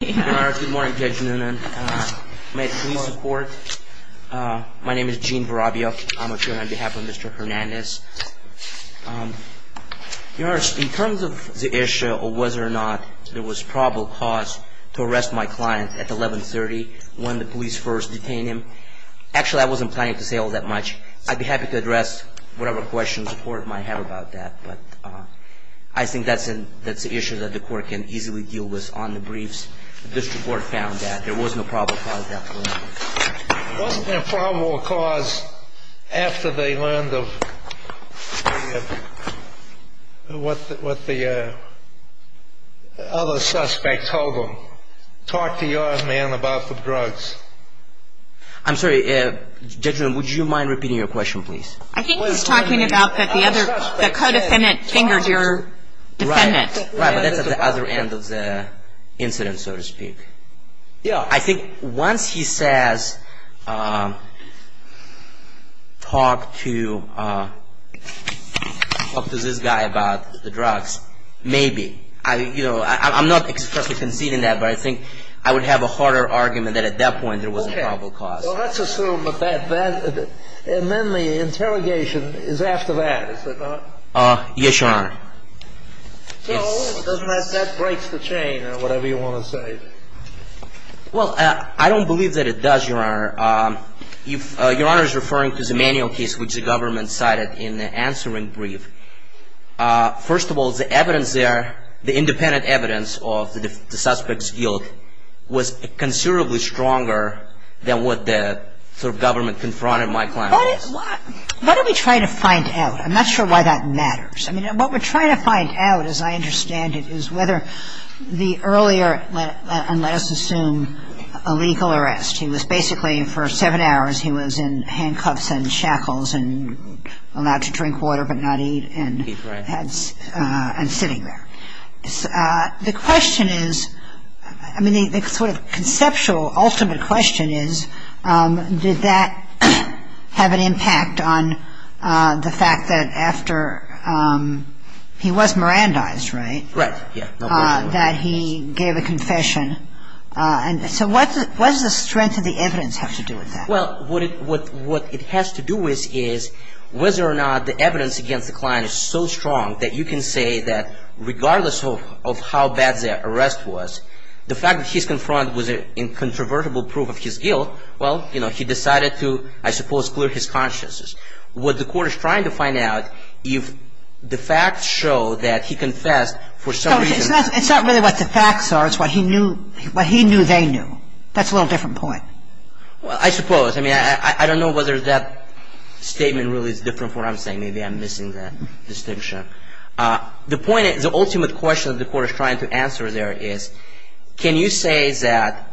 Good morning Judge Noonan. My name is Gene Barabio. I'm here on behalf of Mr. Hernandez. Your Honor, in terms of the issue of whether or not there was probable cause to arrest my client at 1130 when the police first detained him, actually I wasn't planning to say all that much. I'd be happy to address whatever questions the court might have about that. But I think that's an issue that the court can easily deal with on the briefs. The district court found that there was no probable cause after 1130. There wasn't a probable cause after they learned of what the other suspect told them. Talk to your man about the drugs. I'm sorry, Judge Noonan, would you mind repeating your question please? I think he's talking about that the co-defendant fingered your defendant. Right, but that's at the other end of the incident, so to speak. I think once he says talk to this guy about the drugs, maybe. I'm not expressly conceding that, but I think I would have a harder argument that at that point there was a probable cause. So let's assume that, and then the interrogation is after that, is it not? Yes, Your Honor. So, doesn't that break the chain, or whatever you want to say? Well, I don't believe that it does, Your Honor. Your Honor is referring to the manual case which the government cited in the answering brief. First of all, the evidence there, the independent evidence of the suspect's guilt was considerably stronger than what the government confronted my client with. What are we trying to find out? I'm not sure why that matters. I mean, what we're trying to find out, as I understand it, is whether the earlier, and let us assume a legal arrest. He was basically for seven hours he was in handcuffs and shackles and allowed to drink water but not eat. Right. And sitting there. The question is, I mean, the sort of conceptual ultimate question is, did that have an impact on the fact that after he was Mirandized, right? Right. That he gave a confession. So what does the strength of the evidence have to do with that? Well, what it has to do with is whether or not the evidence against the client is so strong that you can say that regardless of how bad the arrest was, the fact that he's confronted with incontrovertible proof of his guilt, well, you know, he decided to, I suppose, clear his consciences. What the court is trying to find out, if the facts show that he confessed for some reason. It's not really what the facts are. It's what he knew they knew. That's a little different point. Well, I suppose. I mean, I don't know whether that statement really is different from what I'm saying. Maybe I'm missing that distinction. The point is, the ultimate question the court is trying to answer there is, can you say that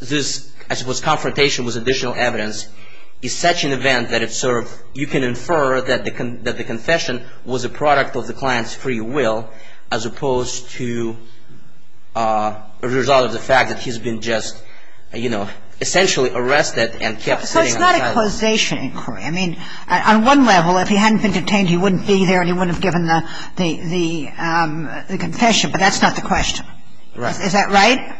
this, I suppose, confrontation with additional evidence is such an event that it's sort of, you can infer that the confession was a product of the client's free will as opposed to as a result of the fact that he's been just, you know, essentially arrested and kept sitting on trial. So it's not a causation inquiry. I mean, on one level, if he hadn't been detained, he wouldn't be there and he wouldn't have given the confession. But that's not the question. Right. Is that right?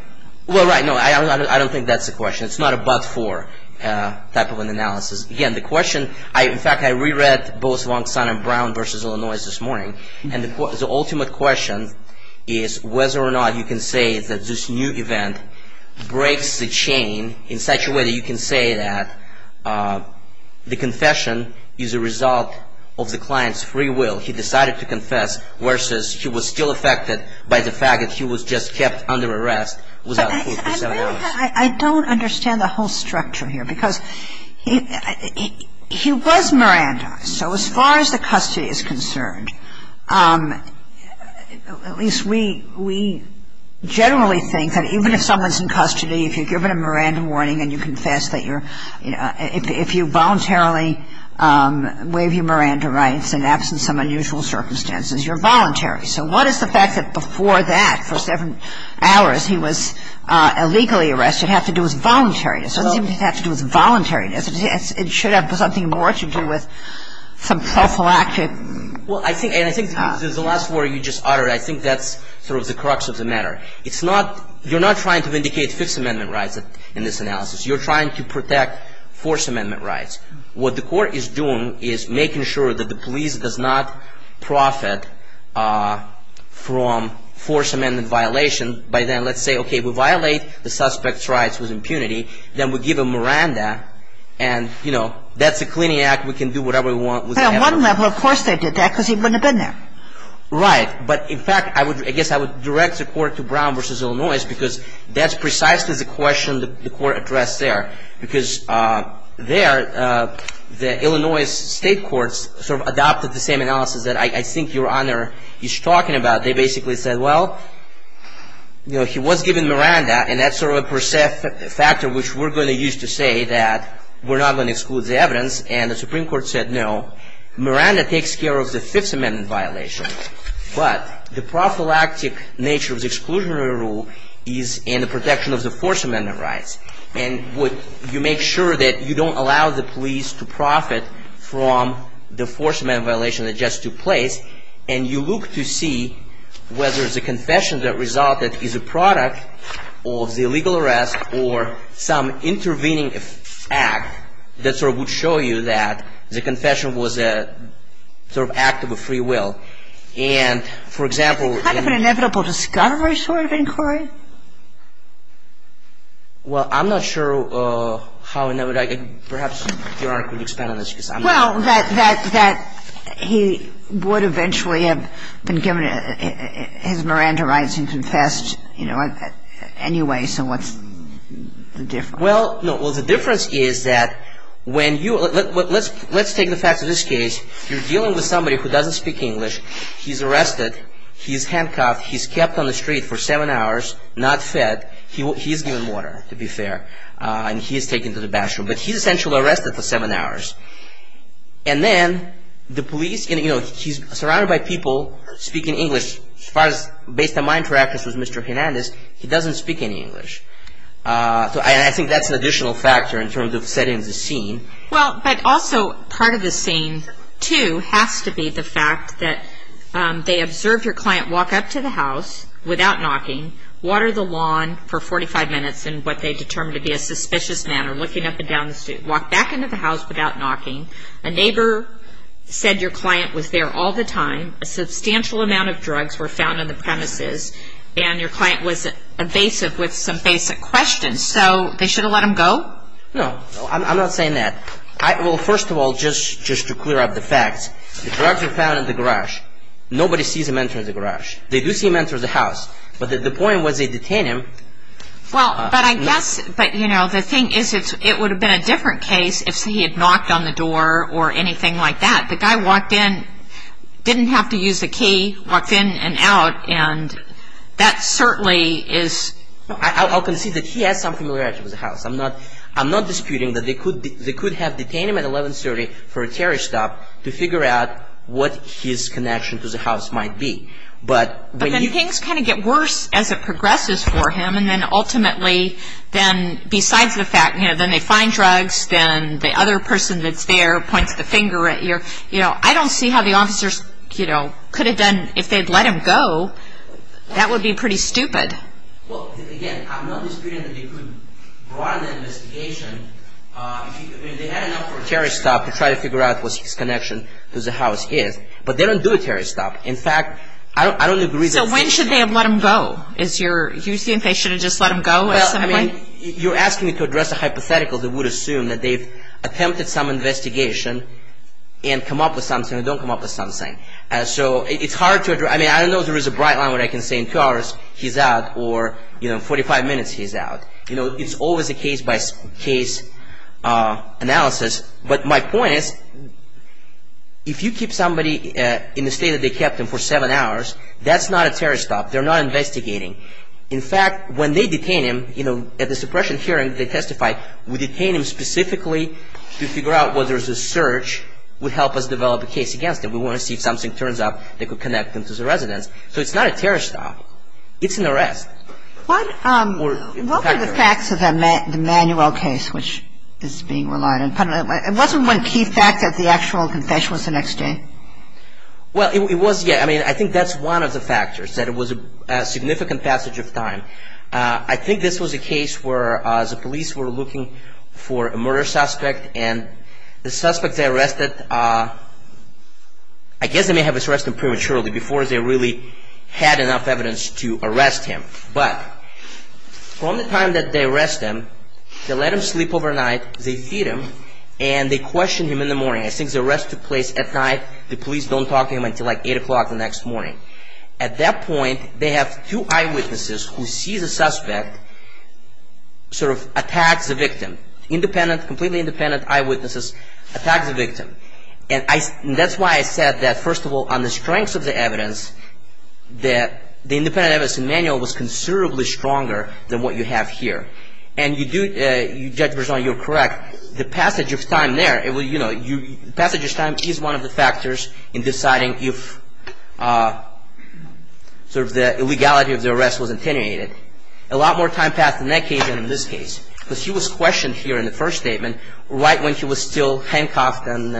Well, right. No, I don't think that's the question. It's not a but-for type of an analysis. Again, the question, in fact, I reread both Wong-Sun and Brown v. Illinois this morning. And the ultimate question is whether or not you can say that this new event breaks the chain in such a way that you can say that the confession is a result of the client's free will. He decided to confess versus he was still affected by the fact that he was just kept under arrest without food for seven hours. I don't understand the whole structure here because he was Miranda. So as far as the custody is concerned, at least we generally think that even if someone's in custody, if you're given a Miranda warning and you confess that you're ‑‑ if you voluntarily waive your Miranda rights in absence of unusual circumstances, you're voluntary. So what is the fact that before that, for seven hours, he was illegally arrested have to do with voluntariness? It doesn't seem to have to do with voluntariness. It should have something more to do with some social action. Well, I think ‑‑ and I think this is the last word you just uttered. I think that's sort of the crux of the matter. It's not ‑‑ you're not trying to vindicate Fifth Amendment rights in this analysis. You're trying to protect Fourth Amendment rights. What the court is doing is making sure that the police does not profit from Fourth Amendment violation. By then, let's say, okay, we violate the suspect's rights with impunity. Then we give him Miranda and, you know, that's a cleaning act. We can do whatever we want. But on one level, of course, they did that because he wouldn't have been there. Right. But, in fact, I guess I would direct the court to Brown v. Illinois because that's precisely the question the court addressed there. Because there, the Illinois state courts sort of adopted the same analysis that I think Your Honor is talking about. They basically said, well, you know, he was given Miranda and that's sort of a factor which we're going to use to say that we're not going to exclude the evidence. And the Supreme Court said no. Miranda takes care of the Fifth Amendment violation. But the prophylactic nature of the exclusionary rule is in the protection of the Fourth Amendment rights. And you make sure that you don't allow the police to profit from the Fourth Amendment violation that just took place. And you look to see whether the confession that resulted is a product of the illegal arrest or some intervening act that sort of would show you that the confession was a sort of act of a free will. And, for example, in the ---- It's kind of an inevitable discovery sort of inquiry. Well, I'm not sure how inevitable. Perhaps Your Honor could expand on this because I'm not sure. Well, that he would eventually have been given his Miranda rights and confessed, you know, anyway. So what's the difference? Well, no. Well, the difference is that when you ---- let's take the fact of this case. You're dealing with somebody who doesn't speak English. He's arrested. He's handcuffed. He's kept on the street for seven hours. Not fed. He's given water, to be fair. And he's taken to the bathroom. But he's essentially arrested for seven hours. And then the police, you know, he's surrounded by people speaking English. As far as based on my interactions with Mr. Hernandez, he doesn't speak any English. And I think that's an additional factor in terms of setting the scene. Well, but also part of the scene, too, has to be the fact that they observed your client walk up to the house without knocking, water the lawn for 45 minutes in what they determined to be a suspicious manner, looking up and down the street, walk back into the house without knocking. A neighbor said your client was there all the time. A substantial amount of drugs were found on the premises. And your client was evasive with some basic questions. So they should have let him go? No. I'm not saying that. Well, first of all, just to clear up the facts, the drugs were found in the garage. Nobody sees him enter the garage. They do see him enter the house. But the point was they detained him. Well, but I guess, you know, the thing is it would have been a different case if he had knocked on the door or anything like that. The guy walked in, didn't have to use the key, walked in and out. And that certainly is – I'll concede that he has some familiarity with the house. I'm not disputing that they could have detained him at 1130 for a tariff stop to figure out what his connection to the house might be. But when you – But then things kind of get worse as it progresses for him. And then ultimately, then besides the fact, you know, then they find drugs, then the other person that's there points the finger at you. You know, I don't see how the officers, you know, could have done – if they had let him go, that would be pretty stupid. Well, again, I'm not disputing that they could run an investigation. I mean, they had enough for a tariff stop to try to figure out what his connection to the house is. But they don't do a tariff stop. In fact, I don't agree that – So when should they have let him go? Is your – do you think they should have just let him go at some point? Well, I mean, you're asking me to address a hypothetical that would assume that they've attempted some investigation and come up with something or don't come up with something. So it's hard to – I mean, I don't know if there is a bright line where I can say in two hours he's out. Or, you know, in 45 minutes he's out. You know, it's always a case-by-case analysis. But my point is, if you keep somebody in the state that they kept him for seven hours, that's not a tariff stop. They're not investigating. In fact, when they detain him, you know, at the suppression hearing, they testify, we detain him specifically to figure out whether the search would help us develop a case against him. We want to see if something turns up that could connect him to the residence. So it's not a tariff stop. It's an arrest. What were the facts of the Manuel case, which is being relied on? It wasn't one key fact that the actual confession was the next day? Well, it was – yeah, I mean, I think that's one of the factors, that it was a significant passage of time. I think this was a case where the police were looking for a murder suspect, and the suspect they arrested – I guess they may have arrested him prematurely, before they really had enough evidence to arrest him. But from the time that they arrested him, they let him sleep overnight, they feed him, and they questioned him in the morning. I think the arrest took place at night. The police don't talk to him until like 8 o'clock the next morning. At that point, they have two eyewitnesses who see the suspect, sort of attack the victim. And that's why I said that, first of all, on the strength of the evidence, that the independent evidence in Manuel was considerably stronger than what you have here. And you do – Judge Berzon, you're correct. The passage of time there, you know, the passage of time is one of the factors in deciding if sort of the illegality of the arrest was attenuated. A lot more time passed in that case than in this case. Because he was questioned here in the first statement, right when he was still handcuffed and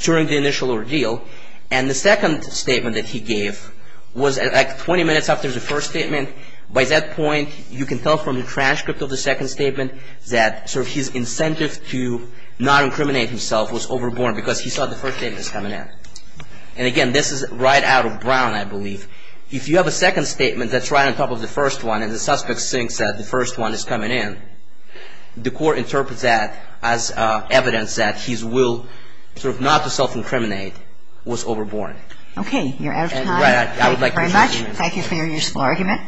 during the initial ordeal. And the second statement that he gave was like 20 minutes after the first statement. By that point, you can tell from the transcript of the second statement that sort of his incentive to not incriminate himself was overborne, because he saw the first statement was coming in. And again, this is right out of Brown, I believe. If you have a second statement that's right on top of the first one and the suspect thinks that the first one is coming in, the court interprets that as evidence that his will sort of not to self-incriminate was overborne. Okay. You're out of time. Thank you very much. Thank you for your useful argument.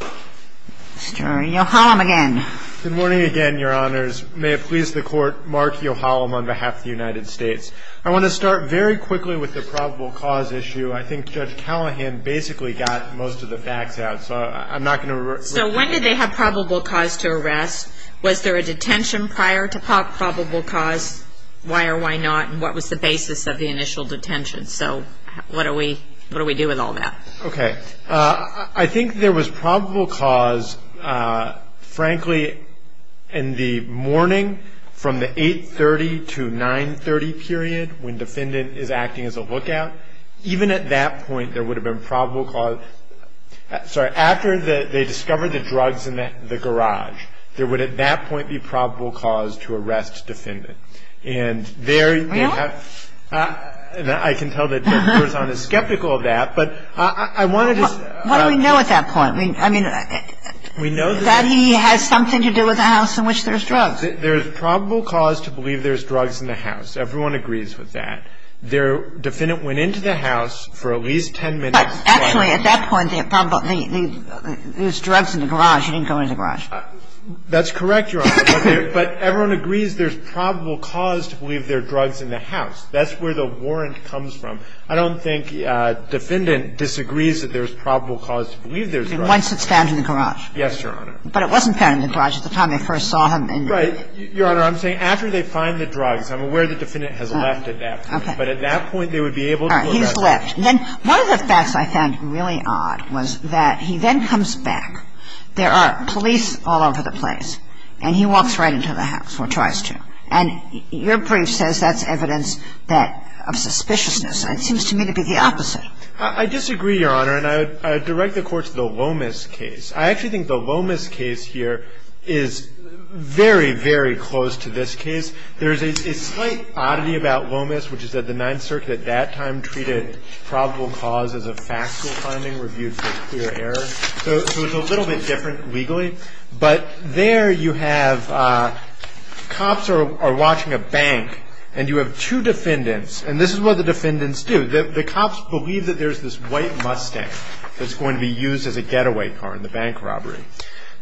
Mr. Yohalam again. Good morning again, Your Honors. May it please the Court, Mark Yohalam on behalf of the United States. I want to start very quickly with the probable cause issue. I think Judge Callahan basically got most of the facts out, so I'm not going to repeat it. So when did they have probable cause to arrest? Was there a detention prior to probable cause? Why or why not? And what was the basis of the initial detention? So what do we do with all that? Okay. I think there was probable cause, frankly, in the morning from the 8.30 to 9.30 period when defendant is acting as a lookout. Even at that point, there would have been probable cause. Sorry. After they discovered the drugs in the garage, there would, at that point, be probable cause to arrest defendant. And there they have – Really? I can tell that Judge Corzine is skeptical of that, but I wanted to – What do we know at that point? I mean – We know that – That he has something to do with the house in which there's drugs. There's probable cause to believe there's drugs in the house. Everyone agrees with that. Their defendant went into the house for at least 10 minutes – But actually, at that point, there was drugs in the garage. He didn't go into the garage. That's correct, Your Honor. But everyone agrees there's probable cause to believe there are drugs in the house. That's where the warrant comes from. I don't think defendant disagrees that there's probable cause to believe there's drugs. Once it's found in the garage. Yes, Your Honor. But it wasn't found in the garage at the time they first saw him in the – Right. Your Honor, I'm saying after they find the drugs. I'm aware the defendant has left at that point. Okay. But at that point, they would be able to address it. All right. He's left. Then one of the facts I found really odd was that he then comes back. There are police all over the place. And he walks right into the house or tries to. And your brief says that's evidence that – of suspiciousness. It seems to me to be the opposite. I disagree, Your Honor. And I would direct the Court to the Lomas case. I actually think the Lomas case here is very, very close to this case. There's a slight oddity about Lomas, which is that the Ninth Circuit at that time treated probable cause as a factual finding reviewed for clear error. So it's a little bit different legally. But there you have cops are watching a bank, and you have two defendants. And this is what the defendants do. The cops believe that there's this white Mustang that's going to be used as a getaway car in the bank robbery.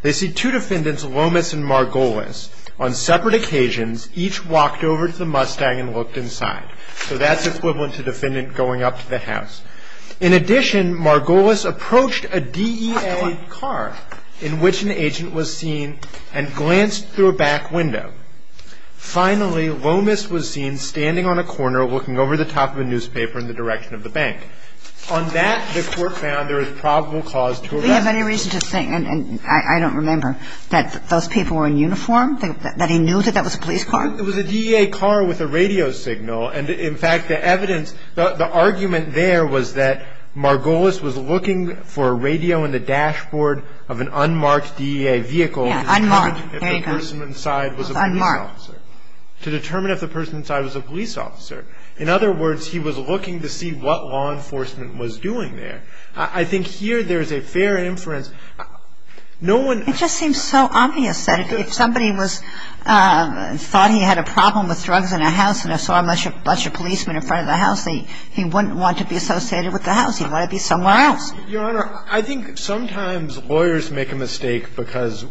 They see two defendants, Lomas and Margolis, on separate occasions, each walked over to the Mustang and looked inside. So that's equivalent to defendant going up to the house. In addition, Margolis approached a DEA car in which an agent was seen and glanced through a back window. Finally, Lomas was seen standing on a corner looking over the top of a newspaper in the direction of the bank. On that, the Court found there was probable cause to arrest. Do we have any reason to think, and I don't remember, that those people were in uniform, that he knew that that was a police car? It was a DEA car with a radio signal. And in fact, the evidence, the argument there was that Margolis was looking for a radio in the dashboard of an unmarked DEA vehicle. Unmarked. There you go. Unmarked. To determine if the person inside was a police officer. In other words, he was looking to see what law enforcement was doing there. I think here there's a fair inference. It just seems so obvious that if somebody thought he had a problem with drugs in a house and saw a bunch of policemen in front of the house, he wouldn't want to be associated with the house. He'd want to be somewhere else. Your Honor, I think sometimes lawyers make a mistake because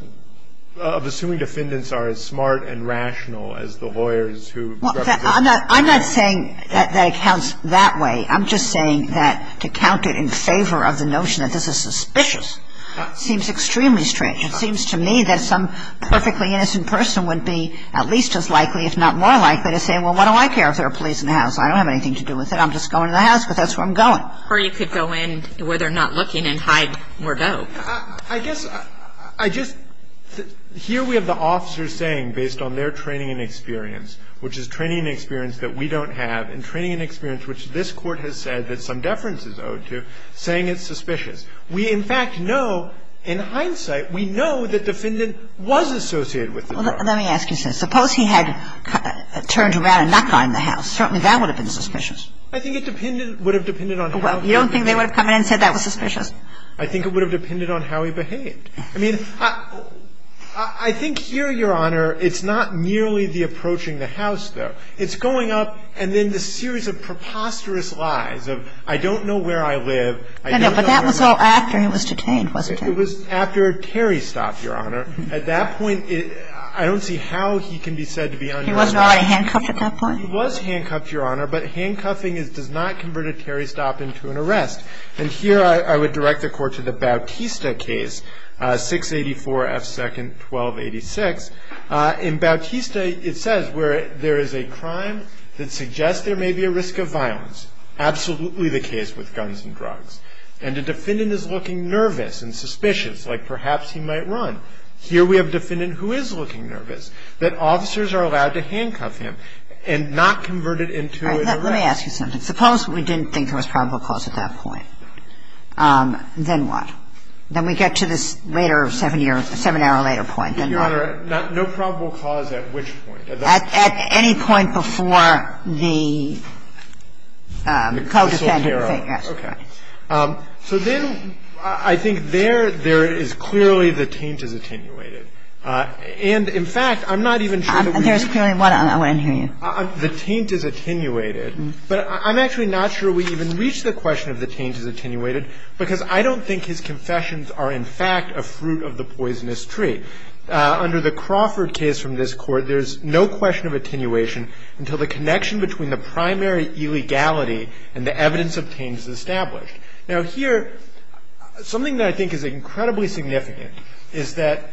of assuming defendants are as smart and rational as the lawyers who represent them. I'm not saying that it counts that way. I'm just saying that to count it in favor of the notion that this is suspicious seems extremely strange. It seems to me that some perfectly innocent person would be at least as likely, if not more likely, to say, well, why do I care if there are police in the house? I don't have anything to do with it. I'm just going to the house because that's where I'm going. Or you could go in where they're not looking and hide Mordeaux. I guess I just here we have the officers saying based on their training and experience, which is training and experience that we don't have, and training and experience which this Court has said that some deference is owed to, saying it's suspicious. We, in fact, know in hindsight, we know the defendant was associated with the drug. Well, let me ask you something. Suppose he had turned around and knocked on the house. Certainly that would have been suspicious. I think it would have depended on how he behaved. Well, you don't think they would have come in and said that was suspicious? I think it would have depended on how he behaved. I mean, I think here, Your Honor, it's not nearly the approaching the house, though. It's going up and then the series of preposterous lies of I don't know where I live, I don't know where I live. But that was all after he was detained, wasn't it? It was after Terry stopped, Your Honor. At that point, I don't see how he can be said to be unarmed. He wasn't already handcuffed at that point? He was handcuffed, Your Honor, but handcuffing does not convert a Terry stop into an arrest. And here I would direct the Court to the Bautista case, 684 F. 2nd, 1286. In Bautista, it says where there is a crime that suggests there may be a risk of violence. Absolutely the case with guns and drugs. And the defendant is looking nervous and suspicious, like perhaps he might run. Here we have a defendant who is looking nervous. That officers are allowed to handcuff him and not convert it into an arrest. Let me ask you something. Suppose we didn't think there was probable cause at that point. Then what? Then we get to this later seven-year or seven-hour later point. Then what? Your Honor, no probable cause at which point? At any point before the co-defendant. Okay. So then I think there, there is clearly the taint is attenuated. And, in fact, I'm not even sure that we need to. There's clearly what? I want to hear you. The taint is attenuated. But I'm actually not sure we even reach the question of the taint is attenuated because I don't think his confessions are, in fact, a fruit of the poisonous tree. Under the Crawford case from this Court, there's no question of attenuation until the connection between the primary illegality and the evidence of taint is established. Now, here, something that I think is incredibly significant is that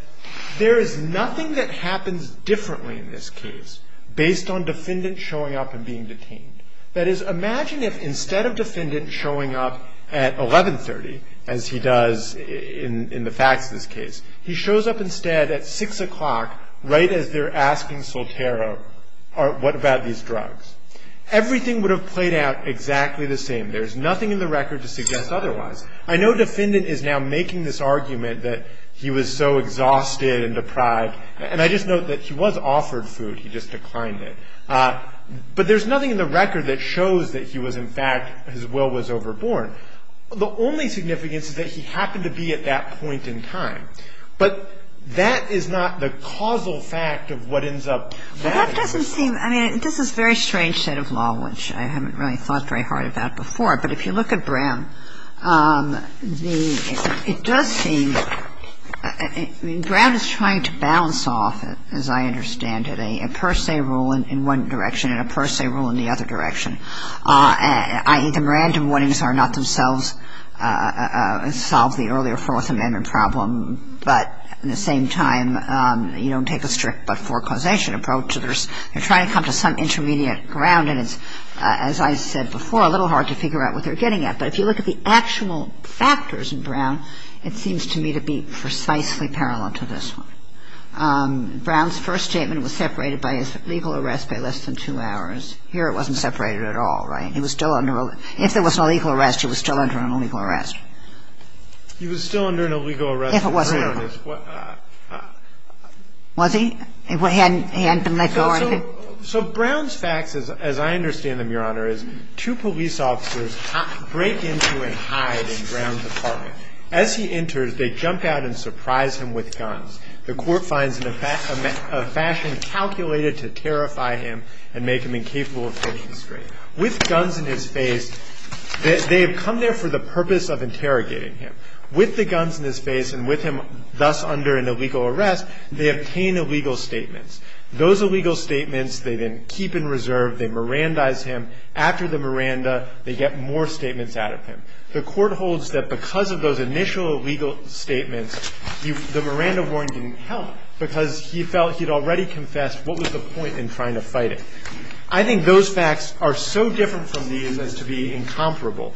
there is nothing that happens differently in this case based on defendant showing up and being detained. That is, imagine if instead of defendant showing up at 1130, as he does in the facts of this case, he shows up instead at 6 o'clock right as they're asking Soltero, what about these drugs? Everything would have played out exactly the same. There's nothing in the record to suggest otherwise. I know defendant is now making this argument that he was so exhausted and deprived. And I just note that he was offered food. He just declined it. But there's nothing in the record that shows that he was, in fact, his will was overborne. The only significance is that he happened to be at that point in time. But that is not the causal fact of what ends up happening. Well, that doesn't seem – I mean, this is very strange state of law, which I haven't really thought very hard about before. But if you look at Brown, the – it does seem – I mean, Brown is trying to balance off, as I understand it, a per se rule in one direction and a per se rule in the other direction, i.e., the Miranda warnings are not themselves – solve the earlier Fourth Amendment problem. But at the same time, you don't take a strict but forecausation approach. You're trying to come to some intermediate ground. And it's, as I said before, a little hard to figure out what they're getting at. But if you look at the actual factors in Brown, it seems to me to be precisely parallel to this one. Brown's first statement was separated by his legal arrest by less than two hours. Here it wasn't separated at all, right? He was still under – if there was an illegal arrest, he was still under an illegal arrest. He was still under an illegal arrest. If it wasn't illegal. Was he? He hadn't been let go or anything? So Brown's facts, as I understand them, Your Honor, is two police officers break into and hide in Brown's apartment. As he enters, they jump out and surprise him with guns. The court finds a fashion calculated to terrify him and make him incapable of pushing straight. With guns in his face, they have come there for the purpose of interrogating him. With the guns in his face and with him thus under an illegal arrest, they obtain illegal statements. Those illegal statements they then keep in reserve. They Mirandize him. After the Miranda, they get more statements out of him. The court holds that because of those initial illegal statements, the Miranda warrant didn't help because he felt he'd already confessed what was the point in trying to fight it. I think those facts are so different from these as to be incomparable.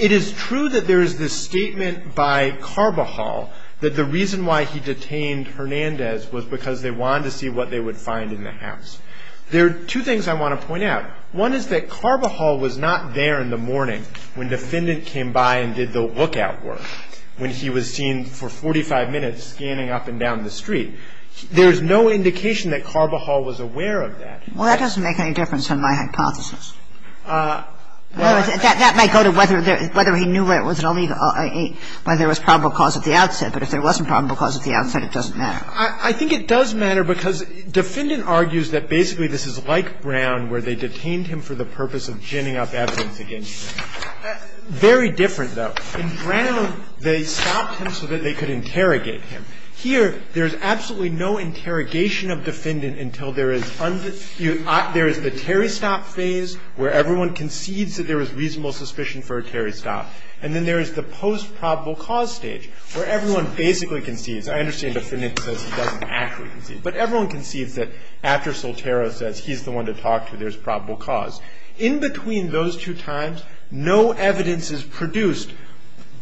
It is true that there is this statement by Carbajal that the reason why he detained Hernandez was because they wanted to see what they would find in the house. There are two things I want to point out. One is that Carbajal was not there in the morning when the defendant came by and did the lookout work, when he was seen for 45 minutes scanning up and down the street. There's no indication that Carbajal was aware of that. The other thing that I'd like to point out is that Miranda was there at the time And the fact that he was there at the time of the incident, that doesn't make any difference from my hypothesis. Well, that might go to whether there – whether he knew where it was at all when there was probable cause at the outset. But if there wasn't probable cause at the outset, it doesn't matter. I think it does matter, because the defendant argues that basically this is like Brown where they detained him for the purpose of ginning up evidence against him. Very different, though. In Brown, they stopped him so that they could interrogate him. Here, there's absolutely no interrogation of defendant until there is – there is the Terry Stop phase where everyone concedes that there is reasonable suspicion for a Terry Stop. And then there is the post-probable cause stage where everyone basically concedes – I understand the defendant says he doesn't actually concede. But everyone concedes that after Soltero says he's the one to talk to, there's probable cause. In between those two times, no evidence is produced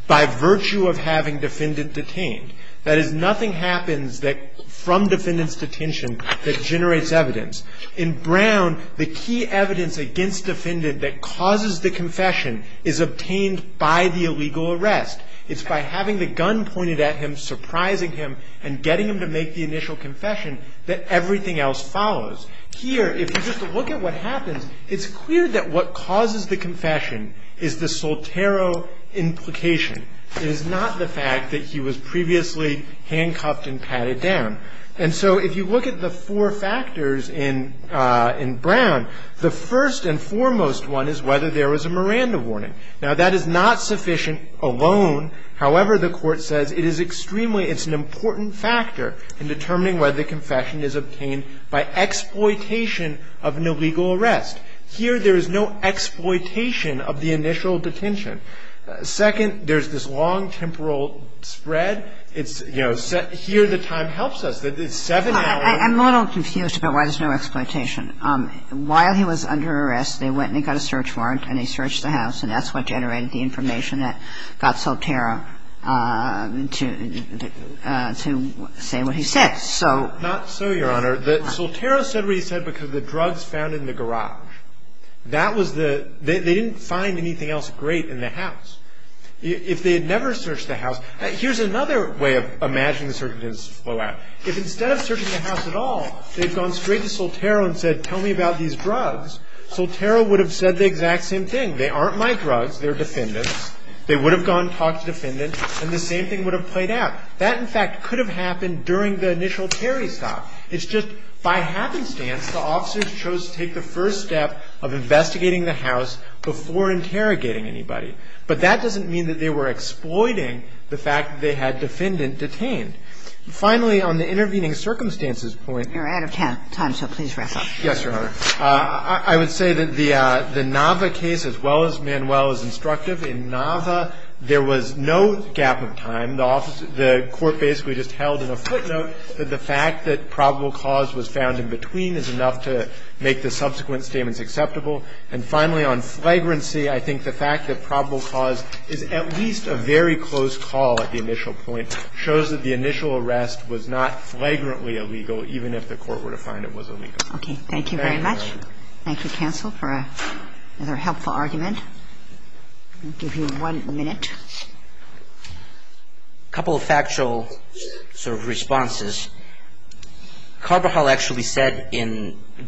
by virtue of having defendant detained. That is, nothing happens that – from defendant's detention that generates evidence. In Brown, the key evidence against defendant that causes the confession is obtained by the illegal arrest. It's by having the gun pointed at him, surprising him, and getting him to make the initial confession that everything else follows. Here, if you just look at what happens, it's clear that what causes the confession is the Soltero implication. It is not the fact that he was previously handcuffed and patted down. And so if you look at the four factors in – in Brown, the first and foremost one is whether there was a Miranda warning. Now, that is not sufficient alone. However, the Court says it is extremely – it's an important factor in determining whether the confession is obtained by exploitation of an illegal arrest. Here, there is no exploitation of the initial detention. Second, there's this long temporal spread. It's – you know, here the time helps us. It's seven hours. Kagan. I'm a little confused about why there's no exploitation. While he was under arrest, they went and got a search warrant, and they searched the house, and that's what generated the information that got Soltero to say what he said, so. Not so, Your Honor. Soltero said what he said because the drugs found in the garage. That was the – they didn't find anything else great in the house. If they had never searched the house – here's another way of imagining the search that didn't flow out. If instead of searching the house at all, they'd gone straight to Soltero and said, tell me about these drugs, Soltero would have said the exact same thing. They aren't my drugs. They're defendants. They would have gone and talked to defendants, and the same thing would have played out. That, in fact, could have happened during the initial Terry stop. It's just, by happenstance, the officers chose to take the first step of investigating the house before interrogating anybody. But that doesn't mean that they were exploiting the fact that they had defendant detained. Finally, on the intervening circumstances point – You're out of time, so please wrap up. Yes, Your Honor. I would say that the Nava case, as well as Manuel, is instructive. In Nava, there was no gap of time. The court basically just held in a footnote that the fact that probable cause was found in between is enough to make the subsequent statements acceptable. And finally, on flagrancy, I think the fact that probable cause is at least a very close call at the initial point shows that the initial arrest was not flagrantly illegal, even if the court were to find it was illegal. Okay. Thank you very much. Thank you, counsel, for another helpful argument. I'll give you one minute. A couple of factual sort of responses. Carbajal actually said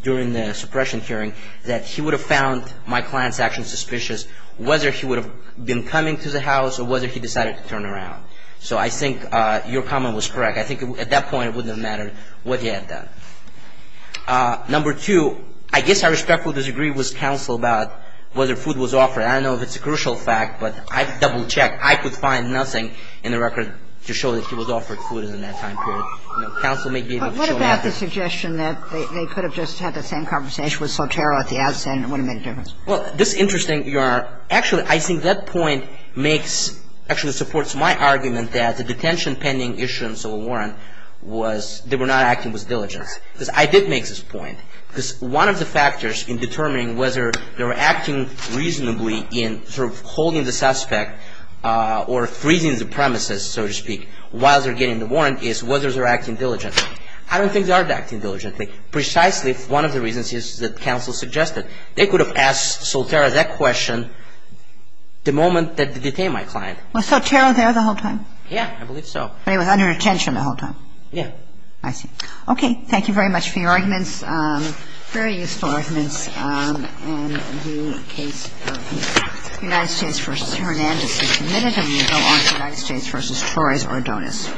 during the suppression hearing that he would have found my client's actions suspicious, whether he would have been coming to the house or whether he decided to turn around. So I think your comment was correct. I think at that point, it wouldn't have mattered what he had done. Number two, I guess I respectfully disagree with counsel about whether food was offered. I don't know if it's a crucial fact, but I double-checked. I could find nothing in the record to show that he was offered food in that time period. Counsel may be able to show that. But what about the suggestion that they could have just had the same conversation with Sotero at the outset and it wouldn't have made a difference? Well, this is interesting. Actually, I think that point makes, actually supports my argument that the detention pending issuance of a warrant was, they were not acting with diligence. Because I did make this point. Because one of the factors in determining whether they were acting reasonably in sort of holding the suspect or freezing the premises, so to speak, while they're getting the warrant is whether they're acting diligently. I don't think they are acting diligently. Precisely one of the reasons is that counsel suggested. They could have asked Sotero that question the moment that they detained my client. Was Sotero there the whole time? Yeah, I believe so. But he was under detention the whole time? Yeah. I see. Okay. Thank you very much for your arguments. Very useful arguments. And the case of United States v. Hernandez is submitted. And we go on to United States v. Torres-Ordonez.